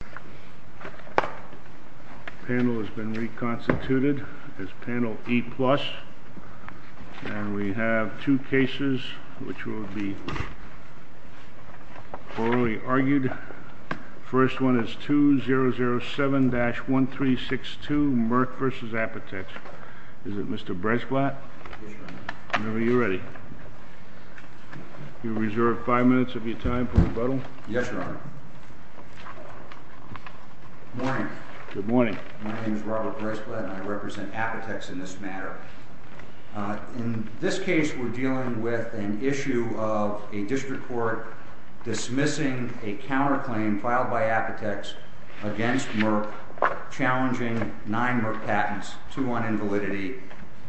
The panel has been reconstituted as panel E+, and we have two cases which will be orally argued. The first one is 2007-1362, Merck v. Apotex. Is it Mr. Bretschblatt? Yes, Your Honor. Whenever you're ready. You're reserved five minutes of your time for rebuttal. Yes, Your Honor. Good morning. Good morning. My name is Robert Bretschblatt, and I represent Apotex in this matter. In this case, we're dealing with an issue of a district court dismissing a counterclaim filed by Apotex against Merck challenging nine Merck patents, two on invalidity,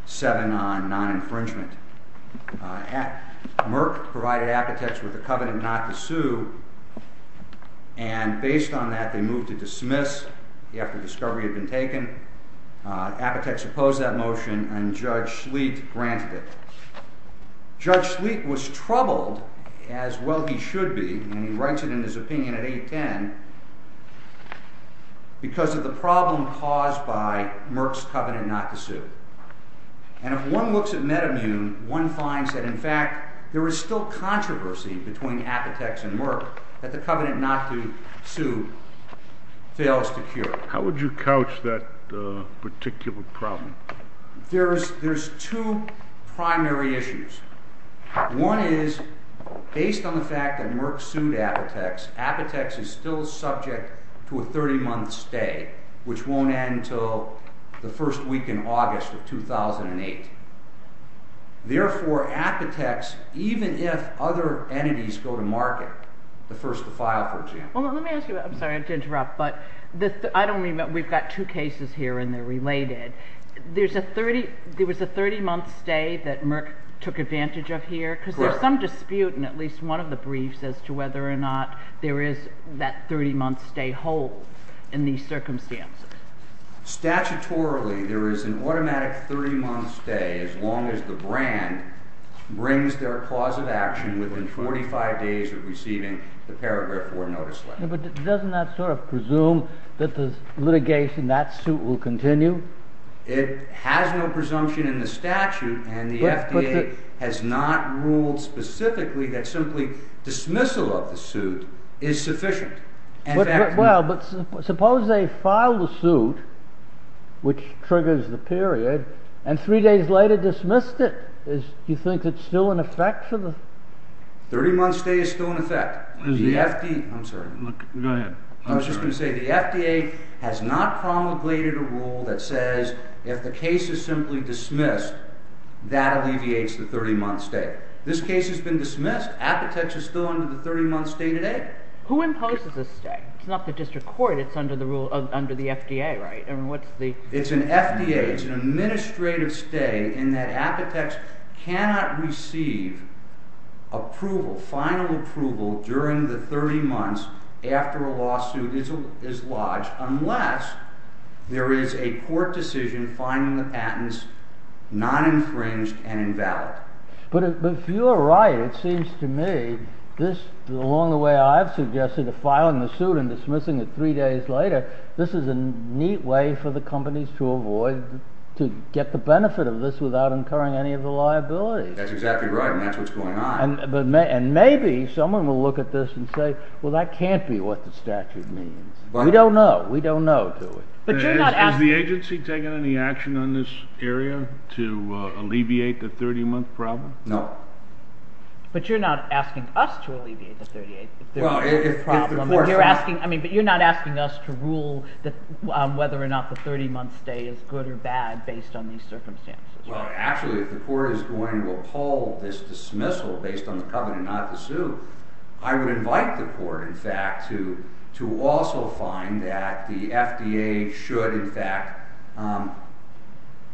seven on non-infringement. Merck provided Apotex with a covenant not to sue, and based on that, they moved to dismiss after discovery had been taken. Apotex opposed that motion, and Judge Schleet granted it. Judge Schleet was troubled, as well he should be, and he writes it in his opinion at 810, because of the problem caused by Merck's covenant not to sue. And if one looks at Metamune, one finds that, in fact, there is still controversy between Apotex and Merck that the covenant not to sue fails to cure. How would you couch that particular problem? There's two primary issues. One is, based on the fact that Merck sued Apotex, Apotex is still subject to a 30-month stay, which won't end until the first week in August of 2008. Therefore, Apotex, even if other entities go to market, the first to file for a jammer. Well, let me ask you, I'm sorry to interrupt, but I don't mean, we've got two cases here and they're related. There was a 30-month stay that Merck took advantage of here? Correct. Because there's some dispute in at least one of the briefs as to whether or not there is that 30-month stay hold in these circumstances. Statutorily, there is an automatic 30-month stay as long as the brand brings their clause of action within 45 days of receiving the paragraph 4 notice letter. But doesn't that sort of presume that the litigation, that suit, will continue? It has no presumption in the statute, and the FDA has not ruled specifically that simply dismissal of the suit is sufficient. Well, but suppose they file the suit, which triggers the period, and three days later dismissed it. Do you think it's still in effect? The 30-month stay is still in effect. I'm sorry. Go ahead. I was just going to say the FDA has not promulgated a rule that says if the case is simply dismissed, that alleviates the 30-month stay. This case has been dismissed. Apotex is still under the 30-month stay today. Who imposes this stay? It's not the district court. It's under the FDA, right? It's an FDA. It's an administrative stay in that Apotex cannot receive approval, final approval, during the 30 months after a lawsuit is lodged unless there is a court decision finding the patents non-infringed and invalid. But if you're right, it seems to me this, along the way I've suggested, of filing the suit and dismissing it three days later, this is a neat way for the companies to avoid, to get the benefit of this without incurring any of the liabilities. That's exactly right, and that's what's going on. And maybe someone will look at this and say, well, that can't be what the statute means. We don't know. We don't know, do we? Has the agency taken any action on this area to alleviate the 30-month problem? No. But you're not asking us to alleviate the 30-month problem. Well, if the court says so. But you're not asking us to rule on whether or not the 30-month stay is good or bad based on these circumstances. Well, actually, if the court is going to uphold this dismissal based on the covenant not to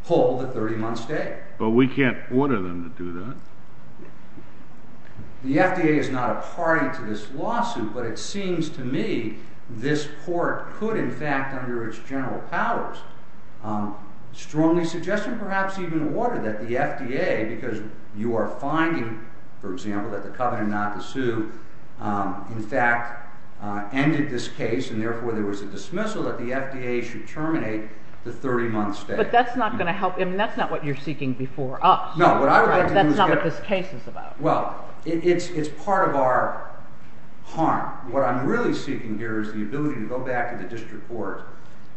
pull the 30-month stay. But we can't order them to do that. The FDA is not a party to this lawsuit, but it seems to me this court could, in fact, under its general powers, strongly suggest and perhaps even order that the FDA, because you are finding, for example, that the covenant not to sue, in fact, ended this case, and that the FDA should terminate the 30-month stay. But that's not going to help. I mean, that's not what you're seeking before us. No. That's not what this case is about. Well, it's part of our harm. What I'm really seeking here is the ability to go back to the district court,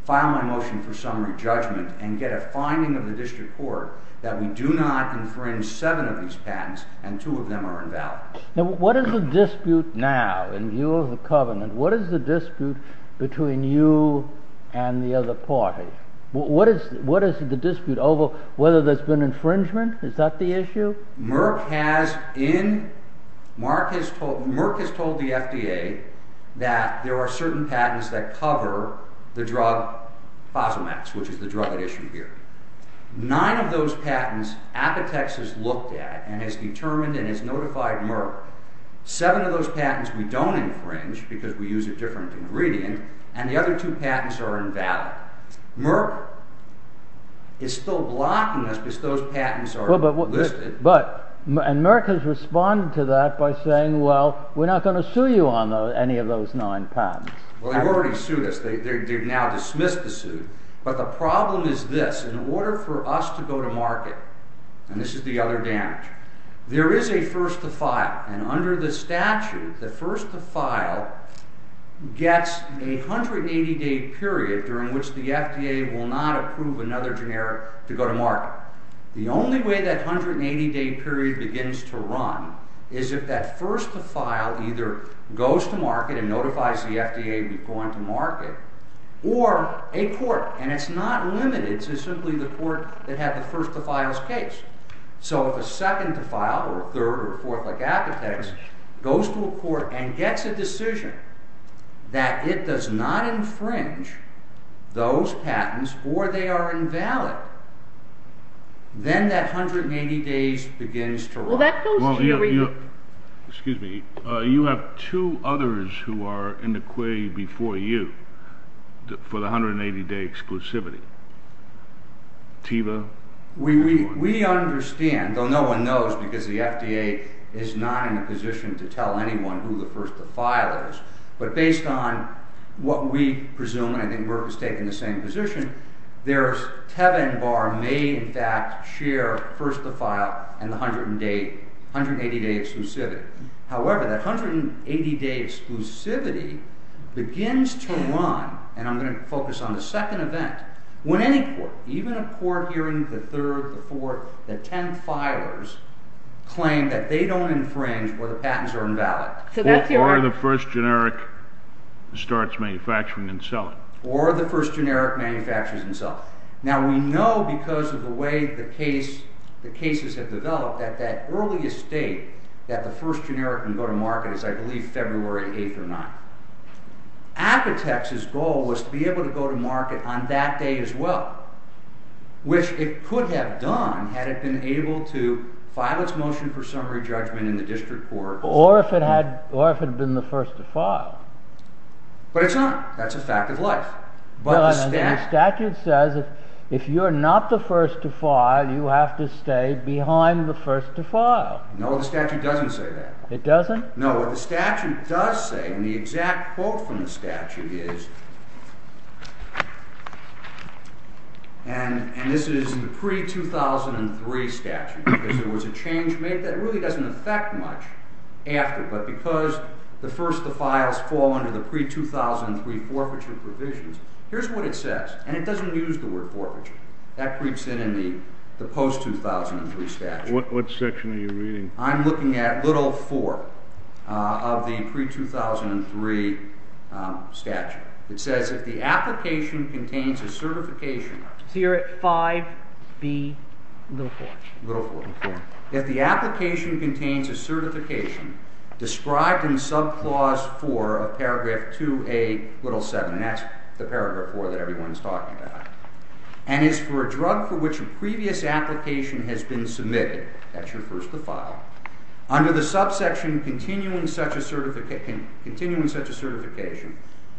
file my motion for summary judgment, and get a finding of the district court that we do not infringe seven of these patents, and two of them are invalid. Now, what is the dispute now in view of the covenant? What is the dispute between you and the other party? What is the dispute over whether there's been infringement? Is that the issue? Merck has told the FDA that there are certain patents that cover the drug Fosamax, which is the drug at issue here. Nine of those patents, Apotex has looked at and has determined and has notified Merck. Seven of those patents we don't infringe because we use a different ingredient, and the other two patents are invalid. Merck is still blocking us because those patents are listed. And Merck has responded to that by saying, well, we're not going to sue you on any of those nine patents. Well, they've already sued us. They've now dismissed the suit. But the problem is this. In order for us to go to market—and this is the other damage—there is a first to file. And under the statute, the first to file gets a 180-day period during which the FDA will not approve another generic to go to market. The only way that 180-day period begins to run is if that first to file either goes to market and notifies the FDA we've gone to market, or a court—and it's not limited to simply the court that had the first to file's case. So if a second to file, or a third or a fourth like Apotex, goes to a court and gets a decision that it does not infringe those patents or they are invalid, then that 180 days begins to run. Well, that goes to you. Excuse me. You have two others who are in the quay before you for the 180-day exclusivity. Teva? We understand, though no one knows because the FDA is not in a position to tell anyone who the first to file is. But based on what we presume, and I think Burke is taking the same position, Teva and Barr may in fact share first to file and the 180-day exclusivity. However, that 180-day exclusivity begins to run—and I'm going to focus on the second event—when any court, even a court hearing, the third, the fourth, the tenth filers claim that they don't infringe or the patents are invalid. Or the first generic starts manufacturing and selling. Or the first generic manufactures and sells. Now we know because of the way the cases have developed that that earliest date that the first generic can go to market is I believe February 8th or 9th. Apotex's goal was to be able to go to market on that day as well, which it could have done had it been able to file its motion for summary judgment in the district court. Or if it had been the first to file. But it's not. That's a fact of life. But the statute says if you're not the first to file, you have to stay behind the first to file. No, the statute doesn't say that. It doesn't? No, what the statute does say, and the exact quote from the statute is— and this is in the pre-2003 statute, because there was a change made that really doesn't affect much after, but because the first to file fall under the pre-2003 forfeiture provisions, here's what it says, and it doesn't use the word forfeiture. That creeps in in the post-2003 statute. What section are you reading? I'm looking at little 4 of the pre-2003 statute. It says if the application contains a certification— So you're at 5B, little 4. Little 4. If the application contains a certification described in subclause 4 of paragraph 2A, little 7, and that's the paragraph 4 that everyone's talking about, and is for a drug for which a previous application has been submitted, that's your first to file, under the subsection continuing such a certification,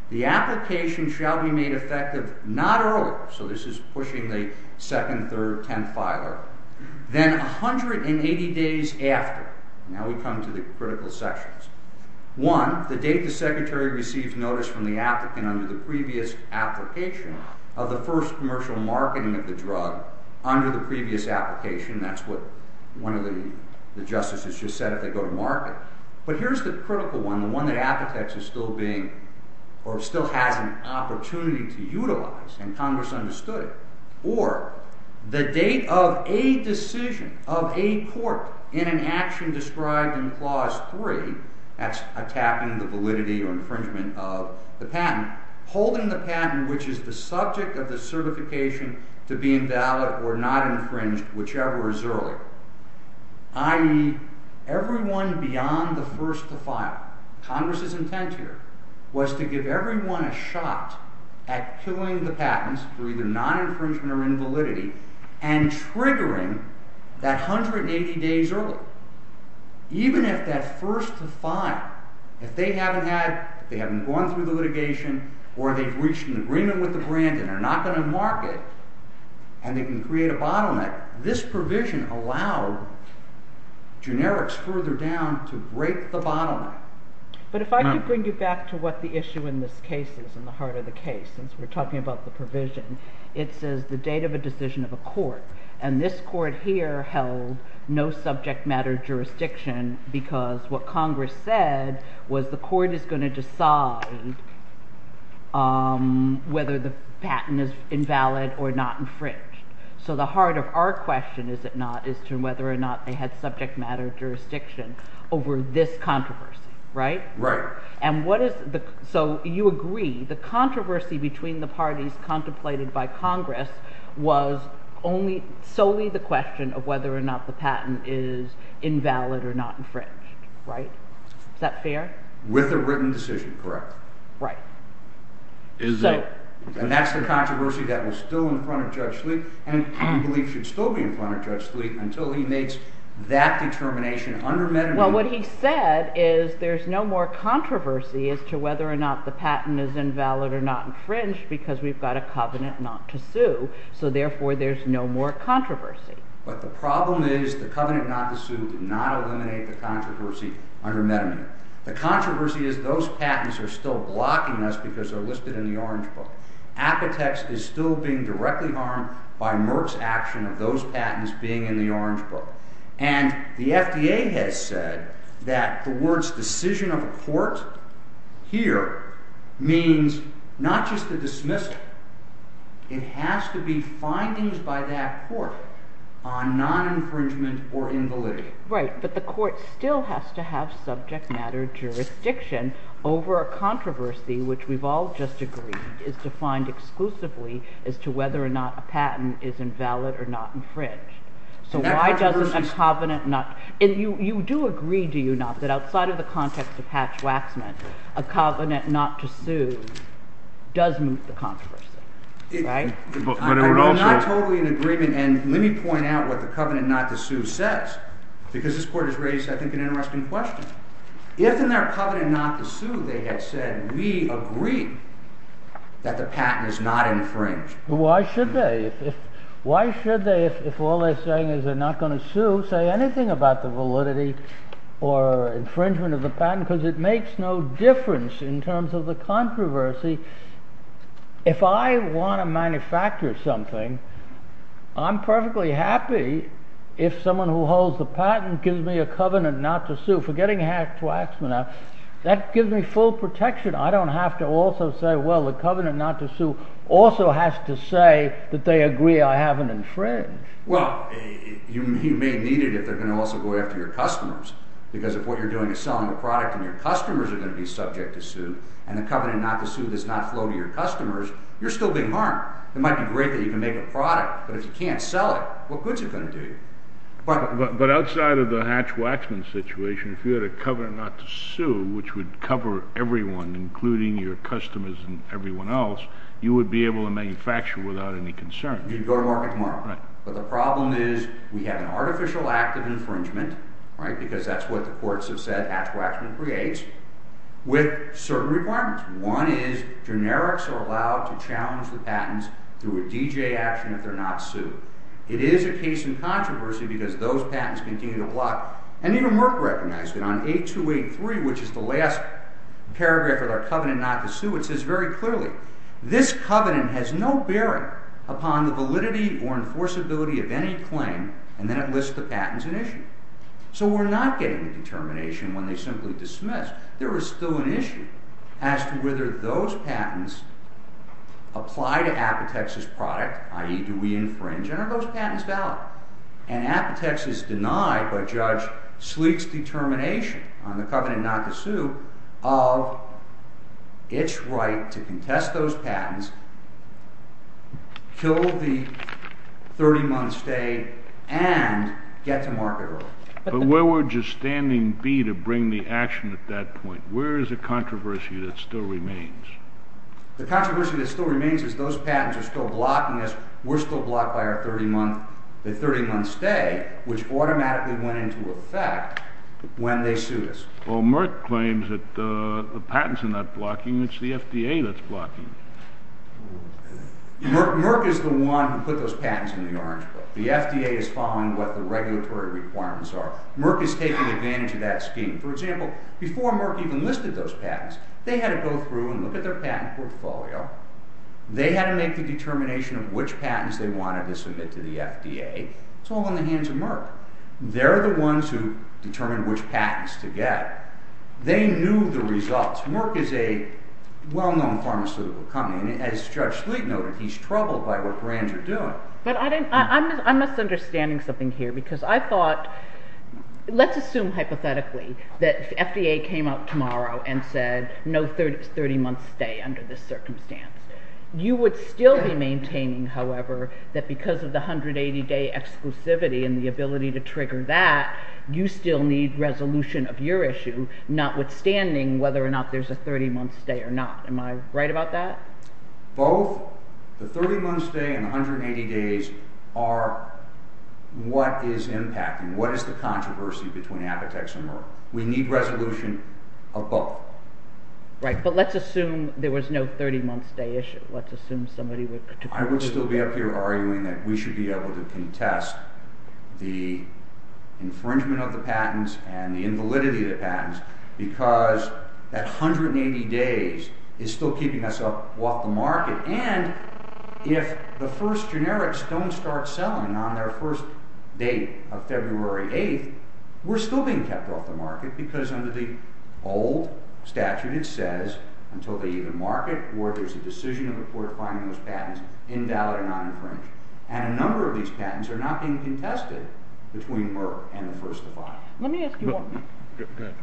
the application shall be made effective not earlier, so this is pushing the second, third, tenth filer, then 180 days after, now we come to the critical sections, One, the date the secretary receives notice from the applicant under the previous application of the first commercial marketing of the drug under the previous application, that's what one of the justices just said if they go to market, but here's the critical one, the one that Appetex is still being, or still has an opportunity to utilize, and Congress understood it, or the date of a decision of a court in an action described in clause 3, that's attacking the validity or infringement of the patent, holding the patent which is the subject of the certification to be invalid or not infringed, whichever is earlier, i.e., everyone beyond the first to file. Congress's intent here was to give everyone a shot at killing the patents for either non-infringement or invalidity, and triggering that 180 days early. Even if that first to file, if they haven't gone through the litigation, or they've reached an agreement with the brand and they're not going to market, and they can create a bottleneck, this provision allowed generics further down to break the bottleneck. But if I could bring you back to what the issue in this case is, in the heart of the case, since we're talking about the provision, it says the date of a decision of a court, and this court here held no subject matter jurisdiction because what Congress said was the court is going to decide whether the patent is invalid or not infringed. So the heart of our question, is it not, is to whether or not they had subject matter jurisdiction over this controversy, right? Right. So you agree the controversy between the parties contemplated by Congress was solely the question of whether or not the patent is invalid or not infringed, right? Is that fair? With a written decision, correct. Right. And that's the controversy that was still in front of Judge Sleet, and we believe should still be in front of Judge Sleet until he makes that determination under- Well, what he said is there's no more controversy as to whether or not the patent is invalid or not infringed because we've got a covenant not to sue, so therefore there's no more controversy. But the problem is the covenant not to sue did not eliminate the controversy under Medamine. The controversy is those patents are still blocking us because they're listed in the Orange Book. Apotex is still being directly harmed by Merck's action of those patents being in the Orange Book. And the FDA has said that the words decision of a court here means not just a dismissal. It has to be findings by that court on non-infringement or invalidity. Right, but the court still has to have subject matter jurisdiction over a controversy which we've all just agreed is defined exclusively as to whether or not a patent is invalid or not infringed. So why doesn't a covenant not- And you do agree, do you not, that outside of the context of Hatch-Waxman, a covenant not to sue does move the controversy, right? But it would also- I'm not totally in agreement, and let me point out what the covenant not to sue says because this court has raised, I think, an interesting question. If in their covenant not to sue they had said we agree that the patent is not infringed- Why should they? Why should they, if all they're saying is they're not going to sue, say anything about the validity or infringement of the patent? Because it makes no difference in terms of the controversy. If I want to manufacture something, I'm perfectly happy if someone who holds the patent gives me a covenant not to sue. Forgetting Hatch-Waxman, that gives me full protection. I don't have to also say, well, the covenant not to sue also has to say that they agree I haven't infringed. Well, you may need it if they're going to also go after your customers because if what you're doing is selling a product and your customers are going to be subject to sue and the covenant not to sue does not flow to your customers, you're still being harmed. It might be great that you can make a product, but if you can't sell it, what good is it going to do you? But outside of the Hatch-Waxman situation, if you had a covenant not to sue which would cover everyone, including your customers and everyone else, you would be able to manufacture without any concern. You'd go to market tomorrow. But the problem is we have an artificial act of infringement, because that's what the courts have said Hatch-Waxman creates, with certain requirements. One is generics are allowed to challenge the patents through a DJ action if they're not sued. It is a case in controversy because those patents continue to block, and even Merck recognized it on 8283, which is the last paragraph of their covenant not to sue. It says very clearly, this covenant has no bearing upon the validity or enforceability of any claim, and then it lists the patents in issue. So we're not getting a determination when they simply dismiss. There is still an issue as to whether those patents apply to Apotex's product, i.e., do we infringe, and are those patents valid? And Apotex is denied by Judge Sleek's determination on the covenant not to sue of its right to contest those patents, kill the 30-month stay, and get to market early. But where would your standing be to bring the action at that point? Where is the controversy that still remains? The controversy that still remains is those patents are still blocking us. We're still blocked by our 30-month stay, which automatically went into effect when they sued us. Well, Merck claims that the patents are not blocking, it's the FDA that's blocking. Merck is the one who put those patents in the orange book. The FDA is following what the regulatory requirements are. Merck is taking advantage of that scheme. For example, before Merck even listed those patents, they had to go through and look at their patent portfolio. They had to make the determination of which patents they wanted to submit to the FDA. It's all in the hands of Merck. They're the ones who determine which patents to get. They knew the results. Merck is a well-known pharmaceutical company, and as Judge Sleek noted, he's troubled by what brands are doing. But I'm misunderstanding something here, because I thought, let's assume hypothetically, that the FDA came up tomorrow and said, no 30-month stay under this circumstance. You would still be maintaining, however, that because of the 180-day exclusivity and the ability to trigger that, you still need resolution of your issue, notwithstanding whether or not there's a 30-month stay or not. Am I right about that? Both the 30-month stay and the 180 days are what is impacting. What is the controversy between Apotex and Merck? We need resolution of both. Right, but let's assume there was no 30-month stay issue. Let's assume somebody would particularly— I would still be up here arguing that we should be able to contest the infringement of the patents and the invalidity of the patents, because that 180 days is still keeping us off the market. And if the first generics don't start selling on their first date of February 8th, we're still being kept off the market, because under the old statute, it says, until they even market or there's a decision of the court finding those patents invalid or non-infringed. And a number of these patents are not being contested between Merck and the first of five. Let me ask you one more. Go ahead.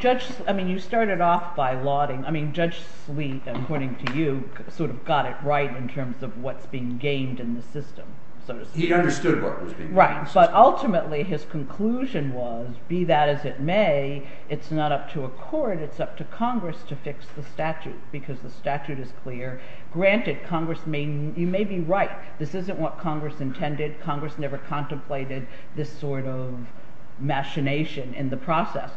Judge—I mean, you started off by lauding—I mean, Judge Sleet, according to you, sort of got it right in terms of what's being gamed in the system, so to speak. He understood what was being gamed in the system. Right, but ultimately his conclusion was, be that as it may, it's not up to a court. It's up to Congress to fix the statute, because the statute is clear. Granted, Congress may—you may be right. This isn't what Congress intended. Congress never contemplated this sort of machination in the process.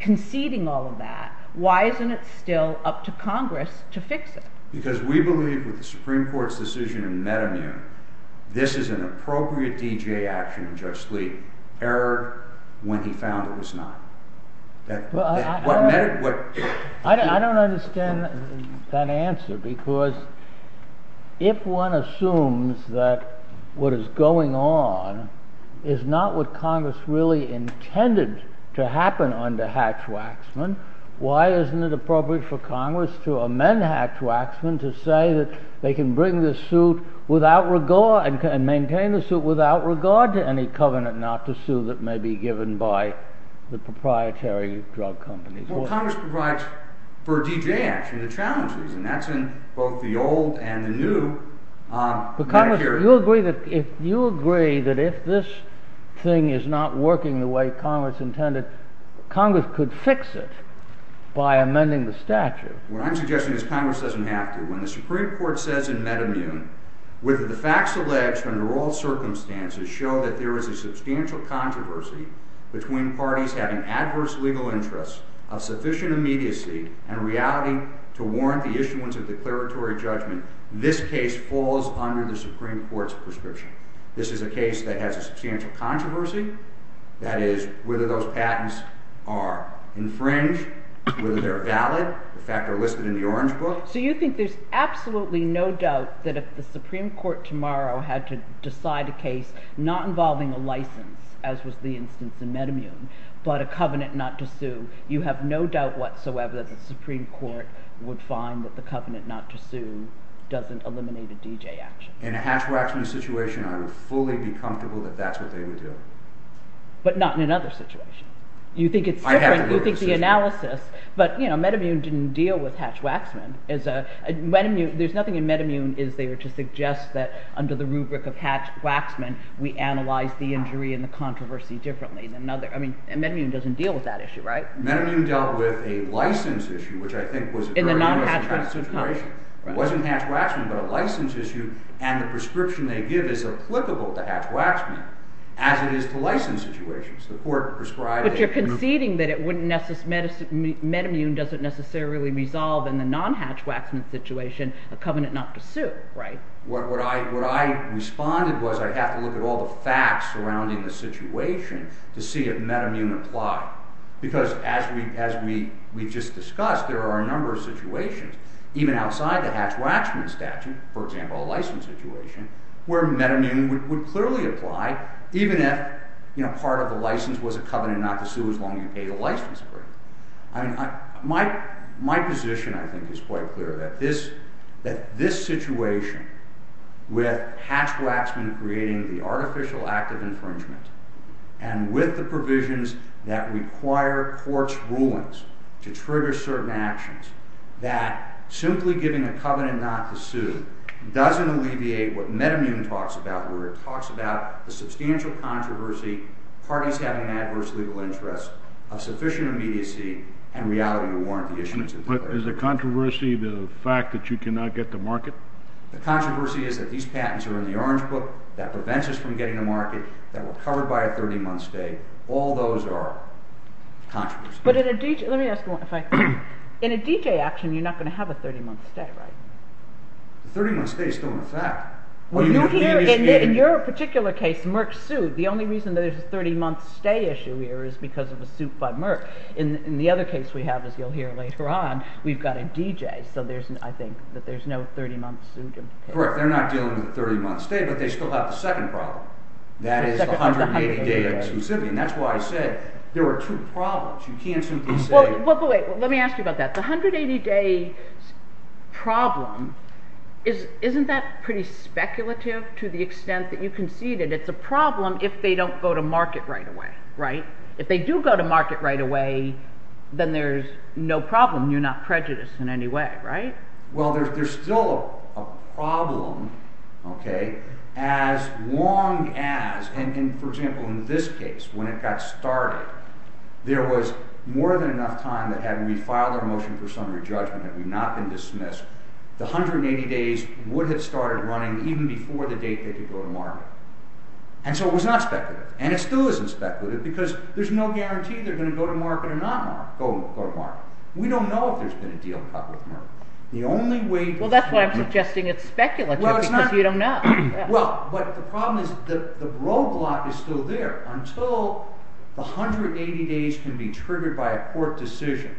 Conceding all of that, why isn't it still up to Congress to fix it? Because we believe with the Supreme Court's decision in Metamune, this is an appropriate DGA action in Judge Sleet. Error when he found it was not. I don't understand that answer, because if one assumes that what is going on is not what Congress really intended to happen under Hatch-Waxman, why isn't it appropriate for Congress to amend Hatch-Waxman to say that they can bring this suit without regard—and maintain the suit without regard to any covenant not to sue that may be given by the proprietary drug companies? Well, Congress provides for a DGA action to challenge these, and that's in both the old and the new Medicare. But Congress, do you agree that if this thing is not working the way Congress intended, Congress could fix it by amending the statute? What I'm suggesting is Congress doesn't have to. When the Supreme Court says in Metamune, whether the facts alleged under all circumstances show that there is a substantial controversy between parties having adverse legal interests of sufficient immediacy and reality to warrant the issuance of declaratory judgment, this case falls under the Supreme Court's prescription. This is a case that has a substantial controversy. That is, whether those patents are infringed, whether they're valid. The facts are listed in the Orange Book. So you think there's absolutely no doubt that if the Supreme Court tomorrow had to decide a case not involving a license, as was the instance in Metamune, but a covenant not to sue, you have no doubt whatsoever that the Supreme Court would find that the covenant not to sue doesn't eliminate a DGA action? In a Hatch-Waxman situation, I would fully be comfortable that that's what they would do. But not in another situation? I have to go to the Supreme Court. But Metamune didn't deal with Hatch-Waxman. There's nothing in Metamune to suggest that under the rubric of Hatch-Waxman we analyze the injury and the controversy differently. Metamune doesn't deal with that issue, right? Metamune dealt with a license issue, which I think was a very interesting kind of situation. It wasn't Hatch-Waxman, but a license issue. And the prescription they give is applicable to Hatch-Waxman, as it is to license situations. But you're conceding that Metamune doesn't necessarily resolve in the non-Hatch-Waxman situation a covenant not to sue, right? What I responded was I'd have to look at all the facts surrounding the situation to see if Metamune applied. Because as we just discussed, there are a number of situations, even outside the Hatch-Waxman statute, for example, a license situation, where Metamune would clearly apply, even if part of the license was a covenant not to sue as long as you paid the license for it. My position, I think, is quite clear, that this situation with Hatch-Waxman creating the artificial act of infringement, and with the provisions that require court's rulings to trigger certain actions, that simply giving a covenant not to sue doesn't alleviate what Metamune talks about, where it talks about the substantial controversy, parties having an adverse legal interest, of sufficient immediacy, and reality to warrant the issuance of declarations. But is the controversy the fact that you cannot get to market? The controversy is that these patents are in the orange book, that prevents us from getting to market, that we're covered by a 30-month stay. All those are controversies. But let me ask you one thing. In a DJ action, you're not going to have a 30-month stay, right? The 30-month stays don't affect. In your particular case, Merck sued. The only reason there's a 30-month stay issue here is because of a suit by Merck. In the other case we have, as you'll hear later on, we've got a DJ, so I think that there's no 30-month suit. Correct. They're not dealing with a 30-month stay, but they still have the second problem. That is the 180-day exclusivity, and that's why I said there are two problems. You can't simply say... Let me ask you about that. The 180-day problem, isn't that pretty speculative to the extent that you concede that it's a problem if they don't go to market right away, right? If they do go to market right away, then there's no problem. You're not prejudiced in any way, right? Well, there's still a problem as long as... For example, in this case, when it got started, there was more than enough time that had we filed our motion for summary judgment, had we not been dismissed, the 180 days would have started running even before the date they could go to market. And so it was not speculative, and it still isn't speculative, because there's no guarantee they're going to go to market or not go to market. We don't know if there's been a deal cut with Merck. The only way... Well, that's why I'm suggesting it's speculative, because you don't know. Well, but the problem is that the roadblock is still there until the 180 days can be triggered by a court decision.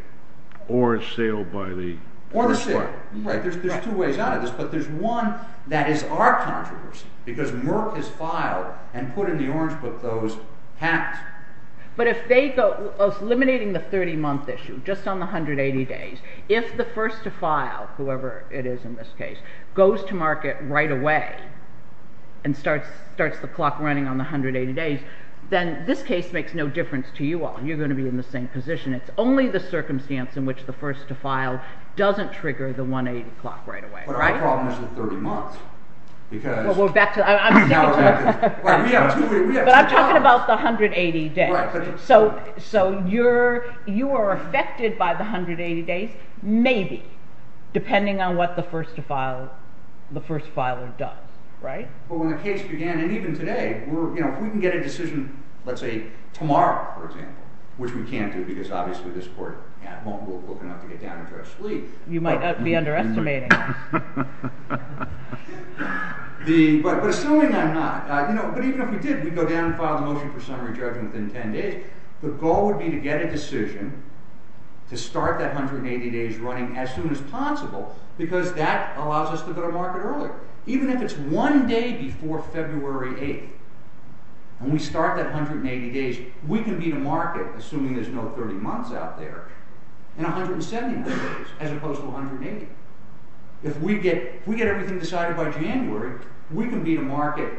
Or a sale by the... Or a sale, right. There's two ways out of this. But there's one that is our controversy, because Merck has filed and put in the orange book those patents. But if they go... Eliminating the 30-month issue, just on the 180 days, if the first to file, whoever it is in this case, goes to market right away and starts the clock running on the 180 days, then this case makes no difference to you all. You're going to be in the same position. It's only the circumstance in which the first to file doesn't trigger the 180 clock right away. But our problem is the 30 months, because... Well, we're back to... I'm sticking to the... But I'm talking about the 180 days. So you are affected by the 180 days, maybe, depending on what the first to file, the first filer does, right? But when the case began, and even today, if we can get a decision, let's say, tomorrow, for example, which we can't do because obviously this court won't look enough to get down and try to sleep... You might be underestimating us. But assuming I'm not... But even if we did, we'd go down and file the motion for summary judgment within 10 days. The goal would be to get a decision to start that 180 days running as soon as possible, because that allows us to go to market earlier. Even if it's one day before February 8th, and we start that 180 days, we can be to market, assuming there's no 30 months out there, in 170 other days, as opposed to 180. If we get everything decided by January, we can be to market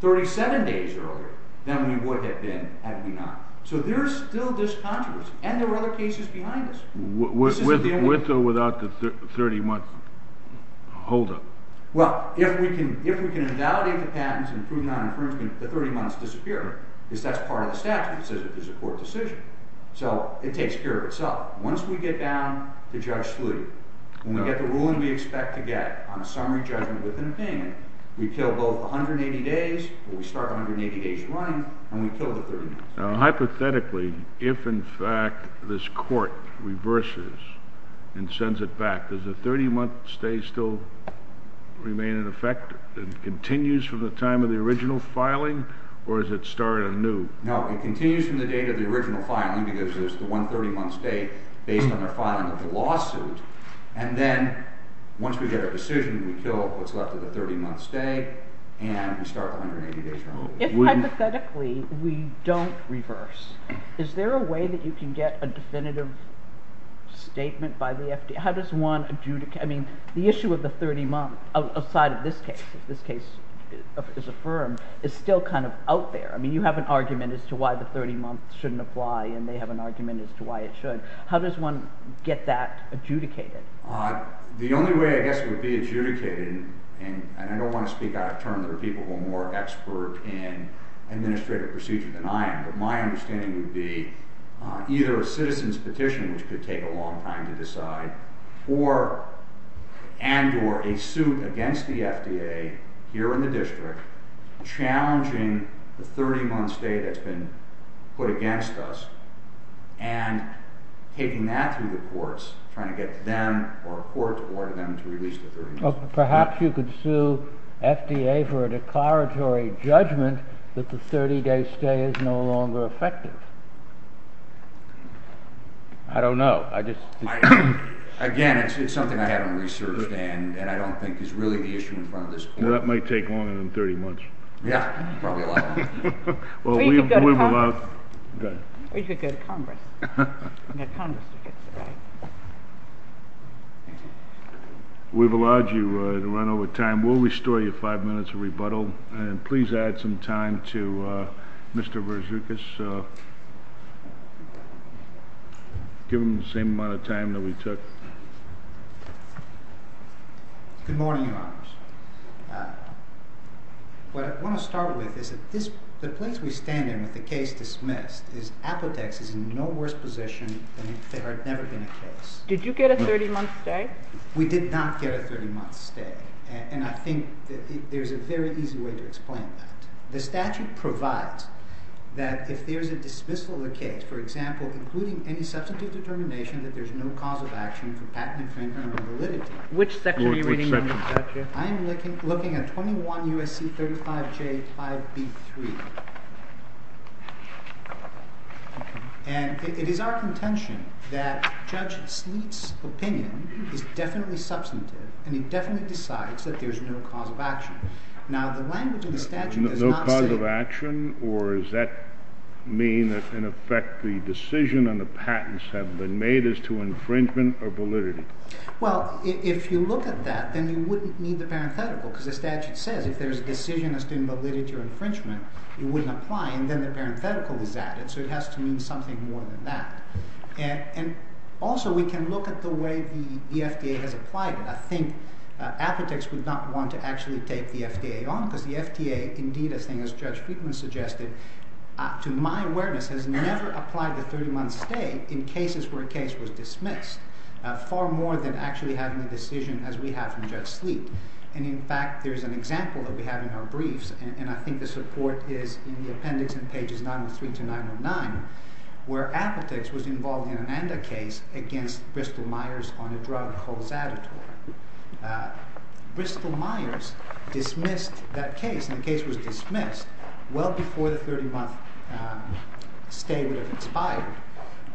37 days earlier than we would have been had we not. So there's still this controversy, and there are other cases behind us. With or without the 30-month holdup? Well, if we can invalidate the patents and prove non-infringement, the 30 months disappear, because that's part of the statute that says that there's a court decision. So it takes care of itself. Once we get down to Judge Slutty, when we get the ruling we expect to get on a summary judgment within a payment, we kill both the 180 days, or we start 180 days running, and we kill the 30 months. Now hypothetically, if in fact this court reverses and sends it back, does the 30-month stay still remain in effect? It continues from the time of the original filing, or does it start anew? No, it continues from the date of the original filing, because there's the one 30-month stay based on the filing of the lawsuit. And then, once we get a decision, we kill what's left of the 30-month stay, and we start the 180 days. If, hypothetically, we don't reverse, is there a way that you can get a definitive statement by the FDA? How does one adjudicate? I mean, the issue of the 30 months, outside of this case, if this case is affirmed, is still kind of out there. I mean, you have an argument as to why the 30 months shouldn't apply, and they have an argument as to why it should. How does one get that adjudicated? and I don't want to speak out of turn, there are people who are more expert in administrative procedure than I am, but my understanding would be either a citizen's petition, which could take a long time to decide, or a suit against the FDA, here in the district, challenging the 30-month stay that's been put against us, and taking that through the courts, trying to get them, or a court, to order them to release the 30 months. Perhaps you could sue FDA for a declaratory judgment that the 30-day stay is no longer effective. I don't know, I just... Again, it's something I haven't researched, and I don't think is really the issue in front of this court. That might take longer than 30 months. Yeah, probably a lot longer. Or you could go to Congress. Or you could go to Congress. We've allowed you to run over time. We'll restore you five minutes of rebuttal, and please add some time to Mr. Verzoukis. Give him the same amount of time that we took. Good morning, Your Honors. What I want to start with is that the place we stand in with the case dismissed is Apotex is in no way a worse position than if there had never been a case. Did you get a 30-month stay? We did not get a 30-month stay. And I think there's a very easy way to explain that. The statute provides that if there's a dismissal of the case, for example, including any substantive determination that there's no cause of action for patent infringement or validity... Which section are you reading in the statute? I'm looking at 21 U.S.C. 35J 5B3. And it is our contention that Judge Sleet's opinion is definitely substantive, and he definitely decides that there's no cause of action. No cause of action? Or does that mean that, in effect, the decision on the patents have been made as to infringement or validity? Well, if you look at that, then you wouldn't need the parenthetical, because the statute says if there's a decision as to validity or infringement, it wouldn't apply. And then the parenthetical is added, so it has to mean something more than that. And also, we can look at the way the FDA has applied it. I think apothecaries would not want to actually take the FDA on, because the FDA, indeed, as Judge Friedman suggested, to my awareness, has never applied the 30-month stay in cases where a case was dismissed, far more than actually having a decision as we have from Judge Sleet. And in fact, there's an example that we have in our briefs, and I think the support is in the appendix in pages 903 to 909, where Apotex was involved in an ANDA case against Bristol-Myers on a drug called Zadotor. Bristol-Myers dismissed that case, and the case was dismissed well before the 30-month stay would have expired.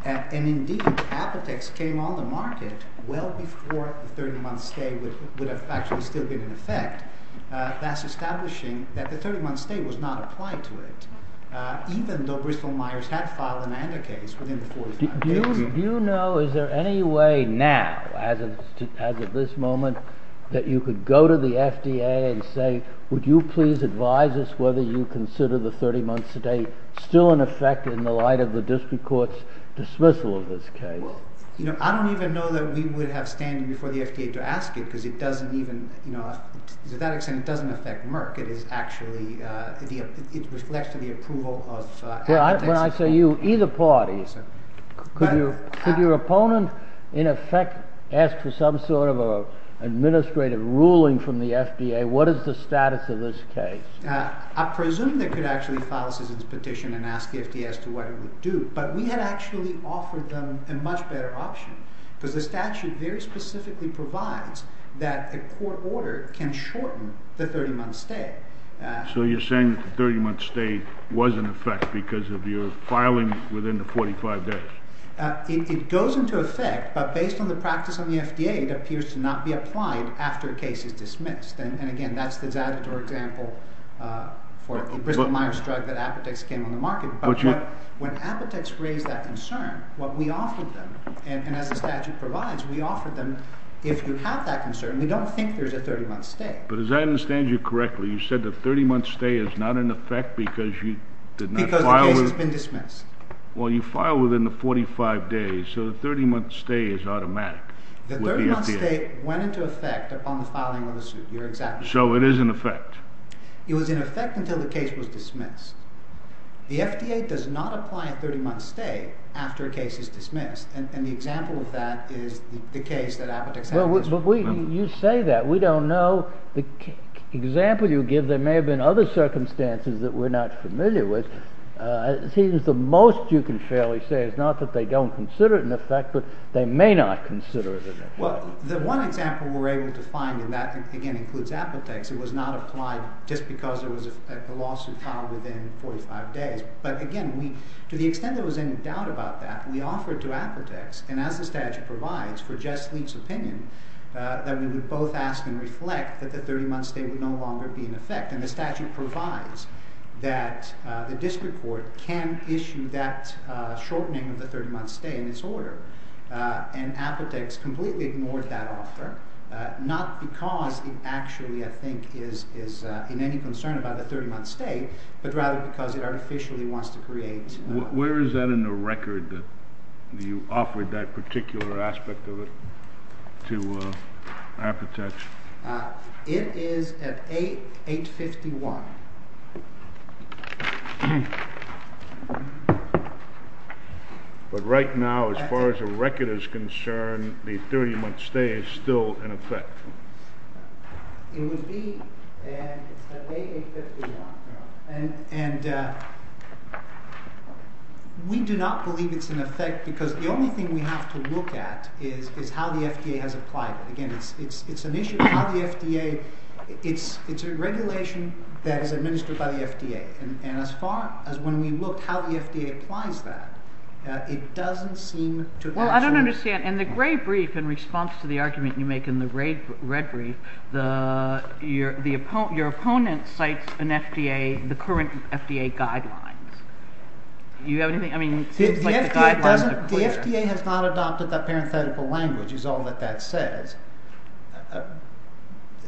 And indeed, Apotex came on the market well before the 30-month stay would have actually still been in effect. That's establishing that the 30-month stay was not applied to it, even though Bristol-Myers had filed an ANDA case within the 45 days. Do you know, is there any way now, as of this moment, that you could go to the FDA and say, would you please advise us whether you consider the 30-month stay still in effect in the light of the district court's dismissal of this case? I don't even know that we would have to stand before the FDA to ask it, because to that extent, it doesn't affect Merck. It reflects to the approval of Apotex. When I say you, either party, could your opponent, in effect, ask for some sort of administrative ruling from the FDA? What is the status of this case? I presume they could actually file a citizen's petition and ask the FDA as to what it would do, but we had actually offered them a much better option, because the statute very specifically provides that a court order can shorten the 30-month stay. So you're saying that the 30-month stay was in effect because of your filing within the 45 days? It goes into effect, but based on the practice of the FDA, it appears to not be applied after a case is dismissed. And again, that's the Zavitar example for the Bristol-Myers drug that Apotex came on the market. But when Apotex raised that concern, what we offered them, and as the statute provides, we offered them, if you have that concern, we don't think there's a 30-month stay. But as I understand you correctly, you said the 30-month stay is not in effect because you did not file... Because the case has been dismissed. Well, you filed within the 45 days, so the 30-month stay is automatic. The 30-month stay went into effect upon the filing of the suit. You're exactly right. So it is in effect. It was in effect until the case was dismissed. The FDA does not apply a 30-month stay after a case is dismissed, and the example of that is the case that Apotex had. But you say that. We don't know. The example you give, there may have been other circumstances that we're not familiar with. It seems the most you can fairly say is not that they don't consider it in effect, but they may not consider it in effect. Well, the one example we're able to find, and that again includes Apotex, it was not applied just because there was a lawsuit filed within 45 days. But again, to the extent there was any doubt about that, we offered to Apotex, and as the statute provides for Jess Leak's opinion, that we would both ask and reflect that the 30-month stay would no longer be in effect. And the statute provides that the district court can issue that shortening of the 30-month stay in its order. And Apotex completely ignored that offer, not because it actually, I think, is in any concern about the 30-month stay, but rather because it artificially wants to create... Where is that in the record that you offered that particular aspect of it to Apotex? It is at 851. But right now, as far as the record is concerned, the 30-month stay is still in effect. It would be at 851. And we do not believe it's in effect because the only thing we have to look at is how the FDA has applied it. Again, it's an issue of how the FDA... It's a regulation that is administered by the FDA. And as far as when we looked at how the FDA applies that, it doesn't seem to... Well, I don't understand. In the gray brief, in response to the argument you make in the red brief, your opponent cites the current FDA guidelines. Do you have anything... The FDA has not adopted that parenthetical language, is all that that says.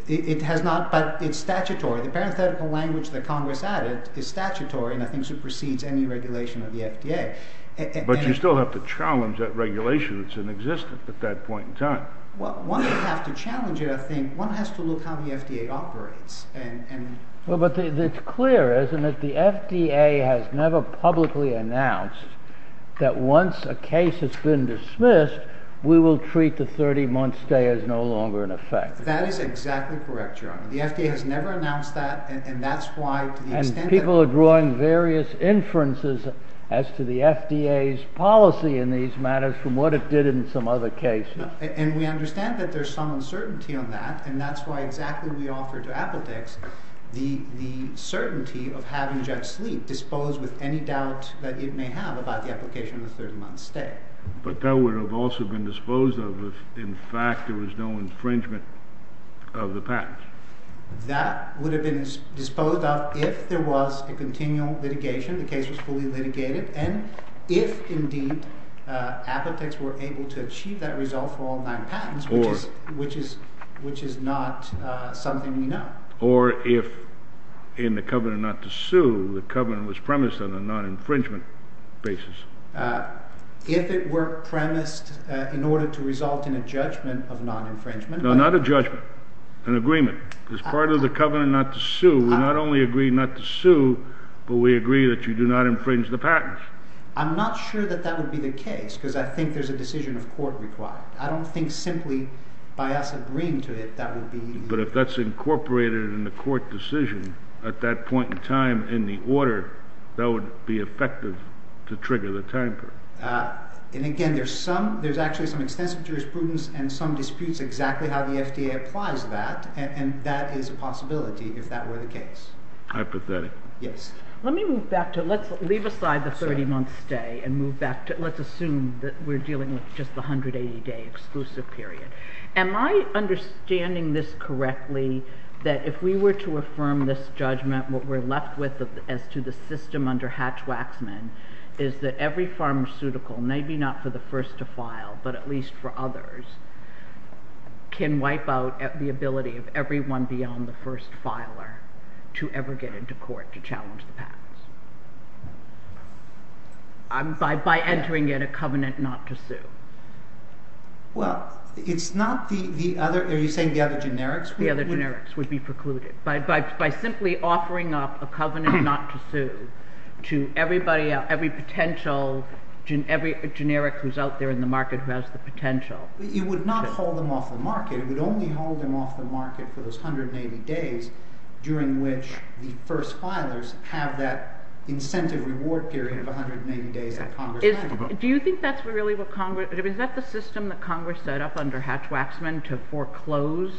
It has not, but it's statutory. The parenthetical language that Congress added is statutory and I think supersedes any regulation of the FDA. But you still have to challenge that regulation if it's in existence at that point in time. Well, one would have to challenge it, I think. One has to look at how the FDA operates. Well, but it's clear, isn't it, that the FDA has never publicly announced that once a case has been dismissed, we will treat the 30-month stay as no longer in effect. That is exactly correct, John. The FDA has never announced that and that's why... And people are drawing various inferences as to the FDA's policy in these matters from what it did in some other cases. And we understand that there's some uncertainty on that and that's why exactly we offered to Appletix the certainty of having JetSleep disposed with any doubt that it may have about the application of the 30-month stay. But that would have also been disposed of if, in fact, there was no infringement of the patents. That would have been disposed of if there was a continual litigation, the case was fully litigated, and if indeed Appletix were able to achieve that result for all nine patents, which is not something we know. Or if in the covenant not to sue, the covenant was premised on a non-infringement basis. If it were premised in order to result in a judgment of non-infringement... No, not a judgment. An agreement. As part of the covenant not to sue, we not only agree not to sue, but we agree that you do not infringe the patents. I'm not sure that that would be the case, because I think there's a decision of court required. I don't think simply by us agreeing to it that would be... But if that's incorporated in the court decision at that point in time in the order, that would be effective to trigger the time period. And again, there's some, there's actually some extensive jurisprudence and some disputes exactly how the FDA applies that, and that is a possibility if that were the case. Hypothetic. Yes. Let me move back to, let's leave aside the 30-month stay and move back to, let's assume that we're dealing with just the 180-day exclusive period. Am I understanding this correctly, that if we were to affirm this judgment, what we're left with as to the system under Hatch-Waxman is that every pharmaceutical, maybe not for the first to file, but at least for others, can wipe out the ability of everyone beyond the first filer to ever get into court to challenge the patents? By entering in a covenant not to sue. Well, it's not the other, are you saying the other generics? The other generics would be precluded. By simply offering up a covenant not to sue to everybody, every potential generic who's out there in the market who has the potential. You would not hold them off the market. You would only hold them off the market for those 180 days during which the first filers have that incentive reward period of 180 days that Congress has. Do you think that's really what Congress, is that the system that Congress set up under Hatch-Waxman to foreclose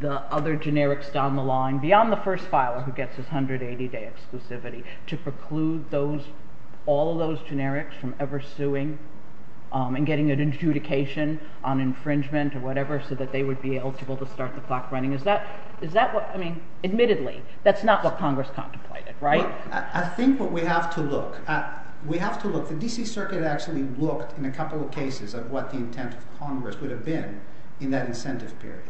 the other generics down the line beyond the first filer who gets his 180-day exclusivity to preclude those, all of those generics from ever suing and getting an adjudication on infringement or whatever so that they would be eligible to start the clock running? Is that what, I mean, admittedly, that's not what Congress contemplated, right? I think what we have to look at, we have to look, the D.C. Circuit actually looked in a couple of cases at what the intent of Congress would have been in that incentive period.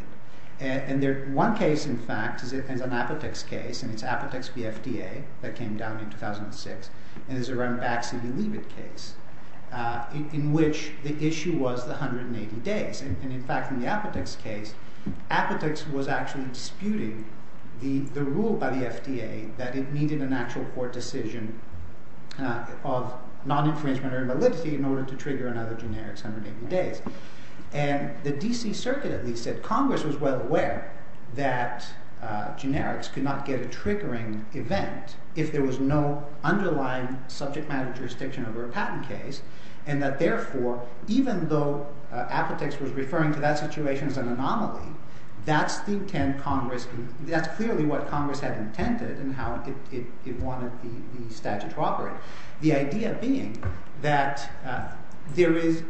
And there, one case, in fact, is an Apotex case and it's Apotex v. FDA that came down in 2006 and it's around Baxley-Leavitt case in which the issue was the 180 days. And in fact, in the Apotex case, Apotex was actually disputing the rule by the FDA that it needed an actual court decision of non-infringement or invalidity in order to trigger another generic's 180 days. And the D.C. Circuit, at least, said Congress was well aware that generics could not get a triggering event if there was no underlying subject matter jurisdiction over a patent case. And that therefore, even though Apotex was referring to that situation as an anomaly, that's clearly what Congress had intended and how it wanted the statute to operate. The idea being that there is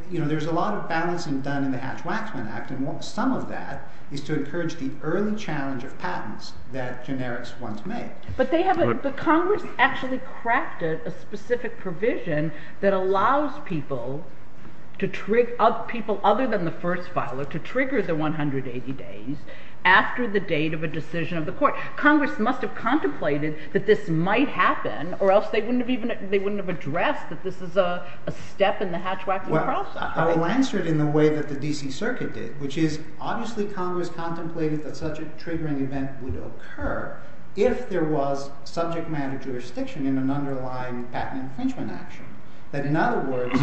a lot of balancing done in the Hatch-Waxman Act and some of that is to encourage the early challenge of patents that generics once made. But Congress actually crafted a specific provision that allows people other than the first filer to trigger the 180 days after the date of a decision of the court. Congress must have contemplated that this might happen or else they wouldn't have addressed that this is a step in the Hatch-Waxman process. Well, I will answer it in the way that the D.C. Circuit did, which is obviously Congress contemplated that such a triggering event would occur if there was no subject matter jurisdiction in an underlying patent infringement action. In other words,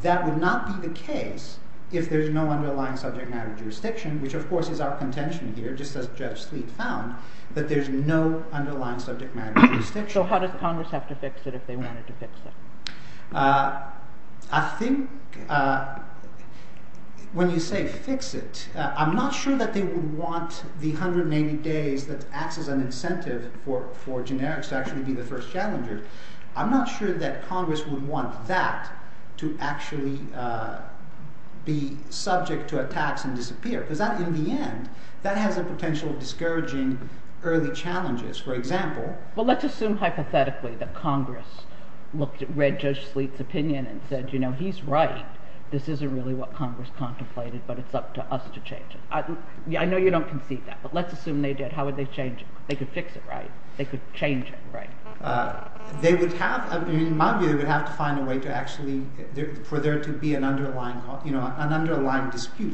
that would not be the case if there's no underlying subject matter jurisdiction, which of course is our contention here, just as Judge Sleet found, that there's no underlying subject matter jurisdiction. So how does Congress have to fix it if they wanted to fix it? I think when you say fix it, I'm not sure that they would want the 180 days that acts as an incentive for generics to actually be the first challenger. I'm not sure that Congress would want that to actually be subject to attacks and disappear, because in the end that has the potential of discouraging early challenges. For example... Well, let's assume hypothetically that Congress read Judge Sleet's opinion and said, you know, he's right. This isn't really what Congress contemplated, but it's up to us to change it. I know you don't concede that, but let's assume they did. How would they change it? They could fix it, right? They could change it, right? They would have, in my view, they would have to find a way to actually for there to be an underlying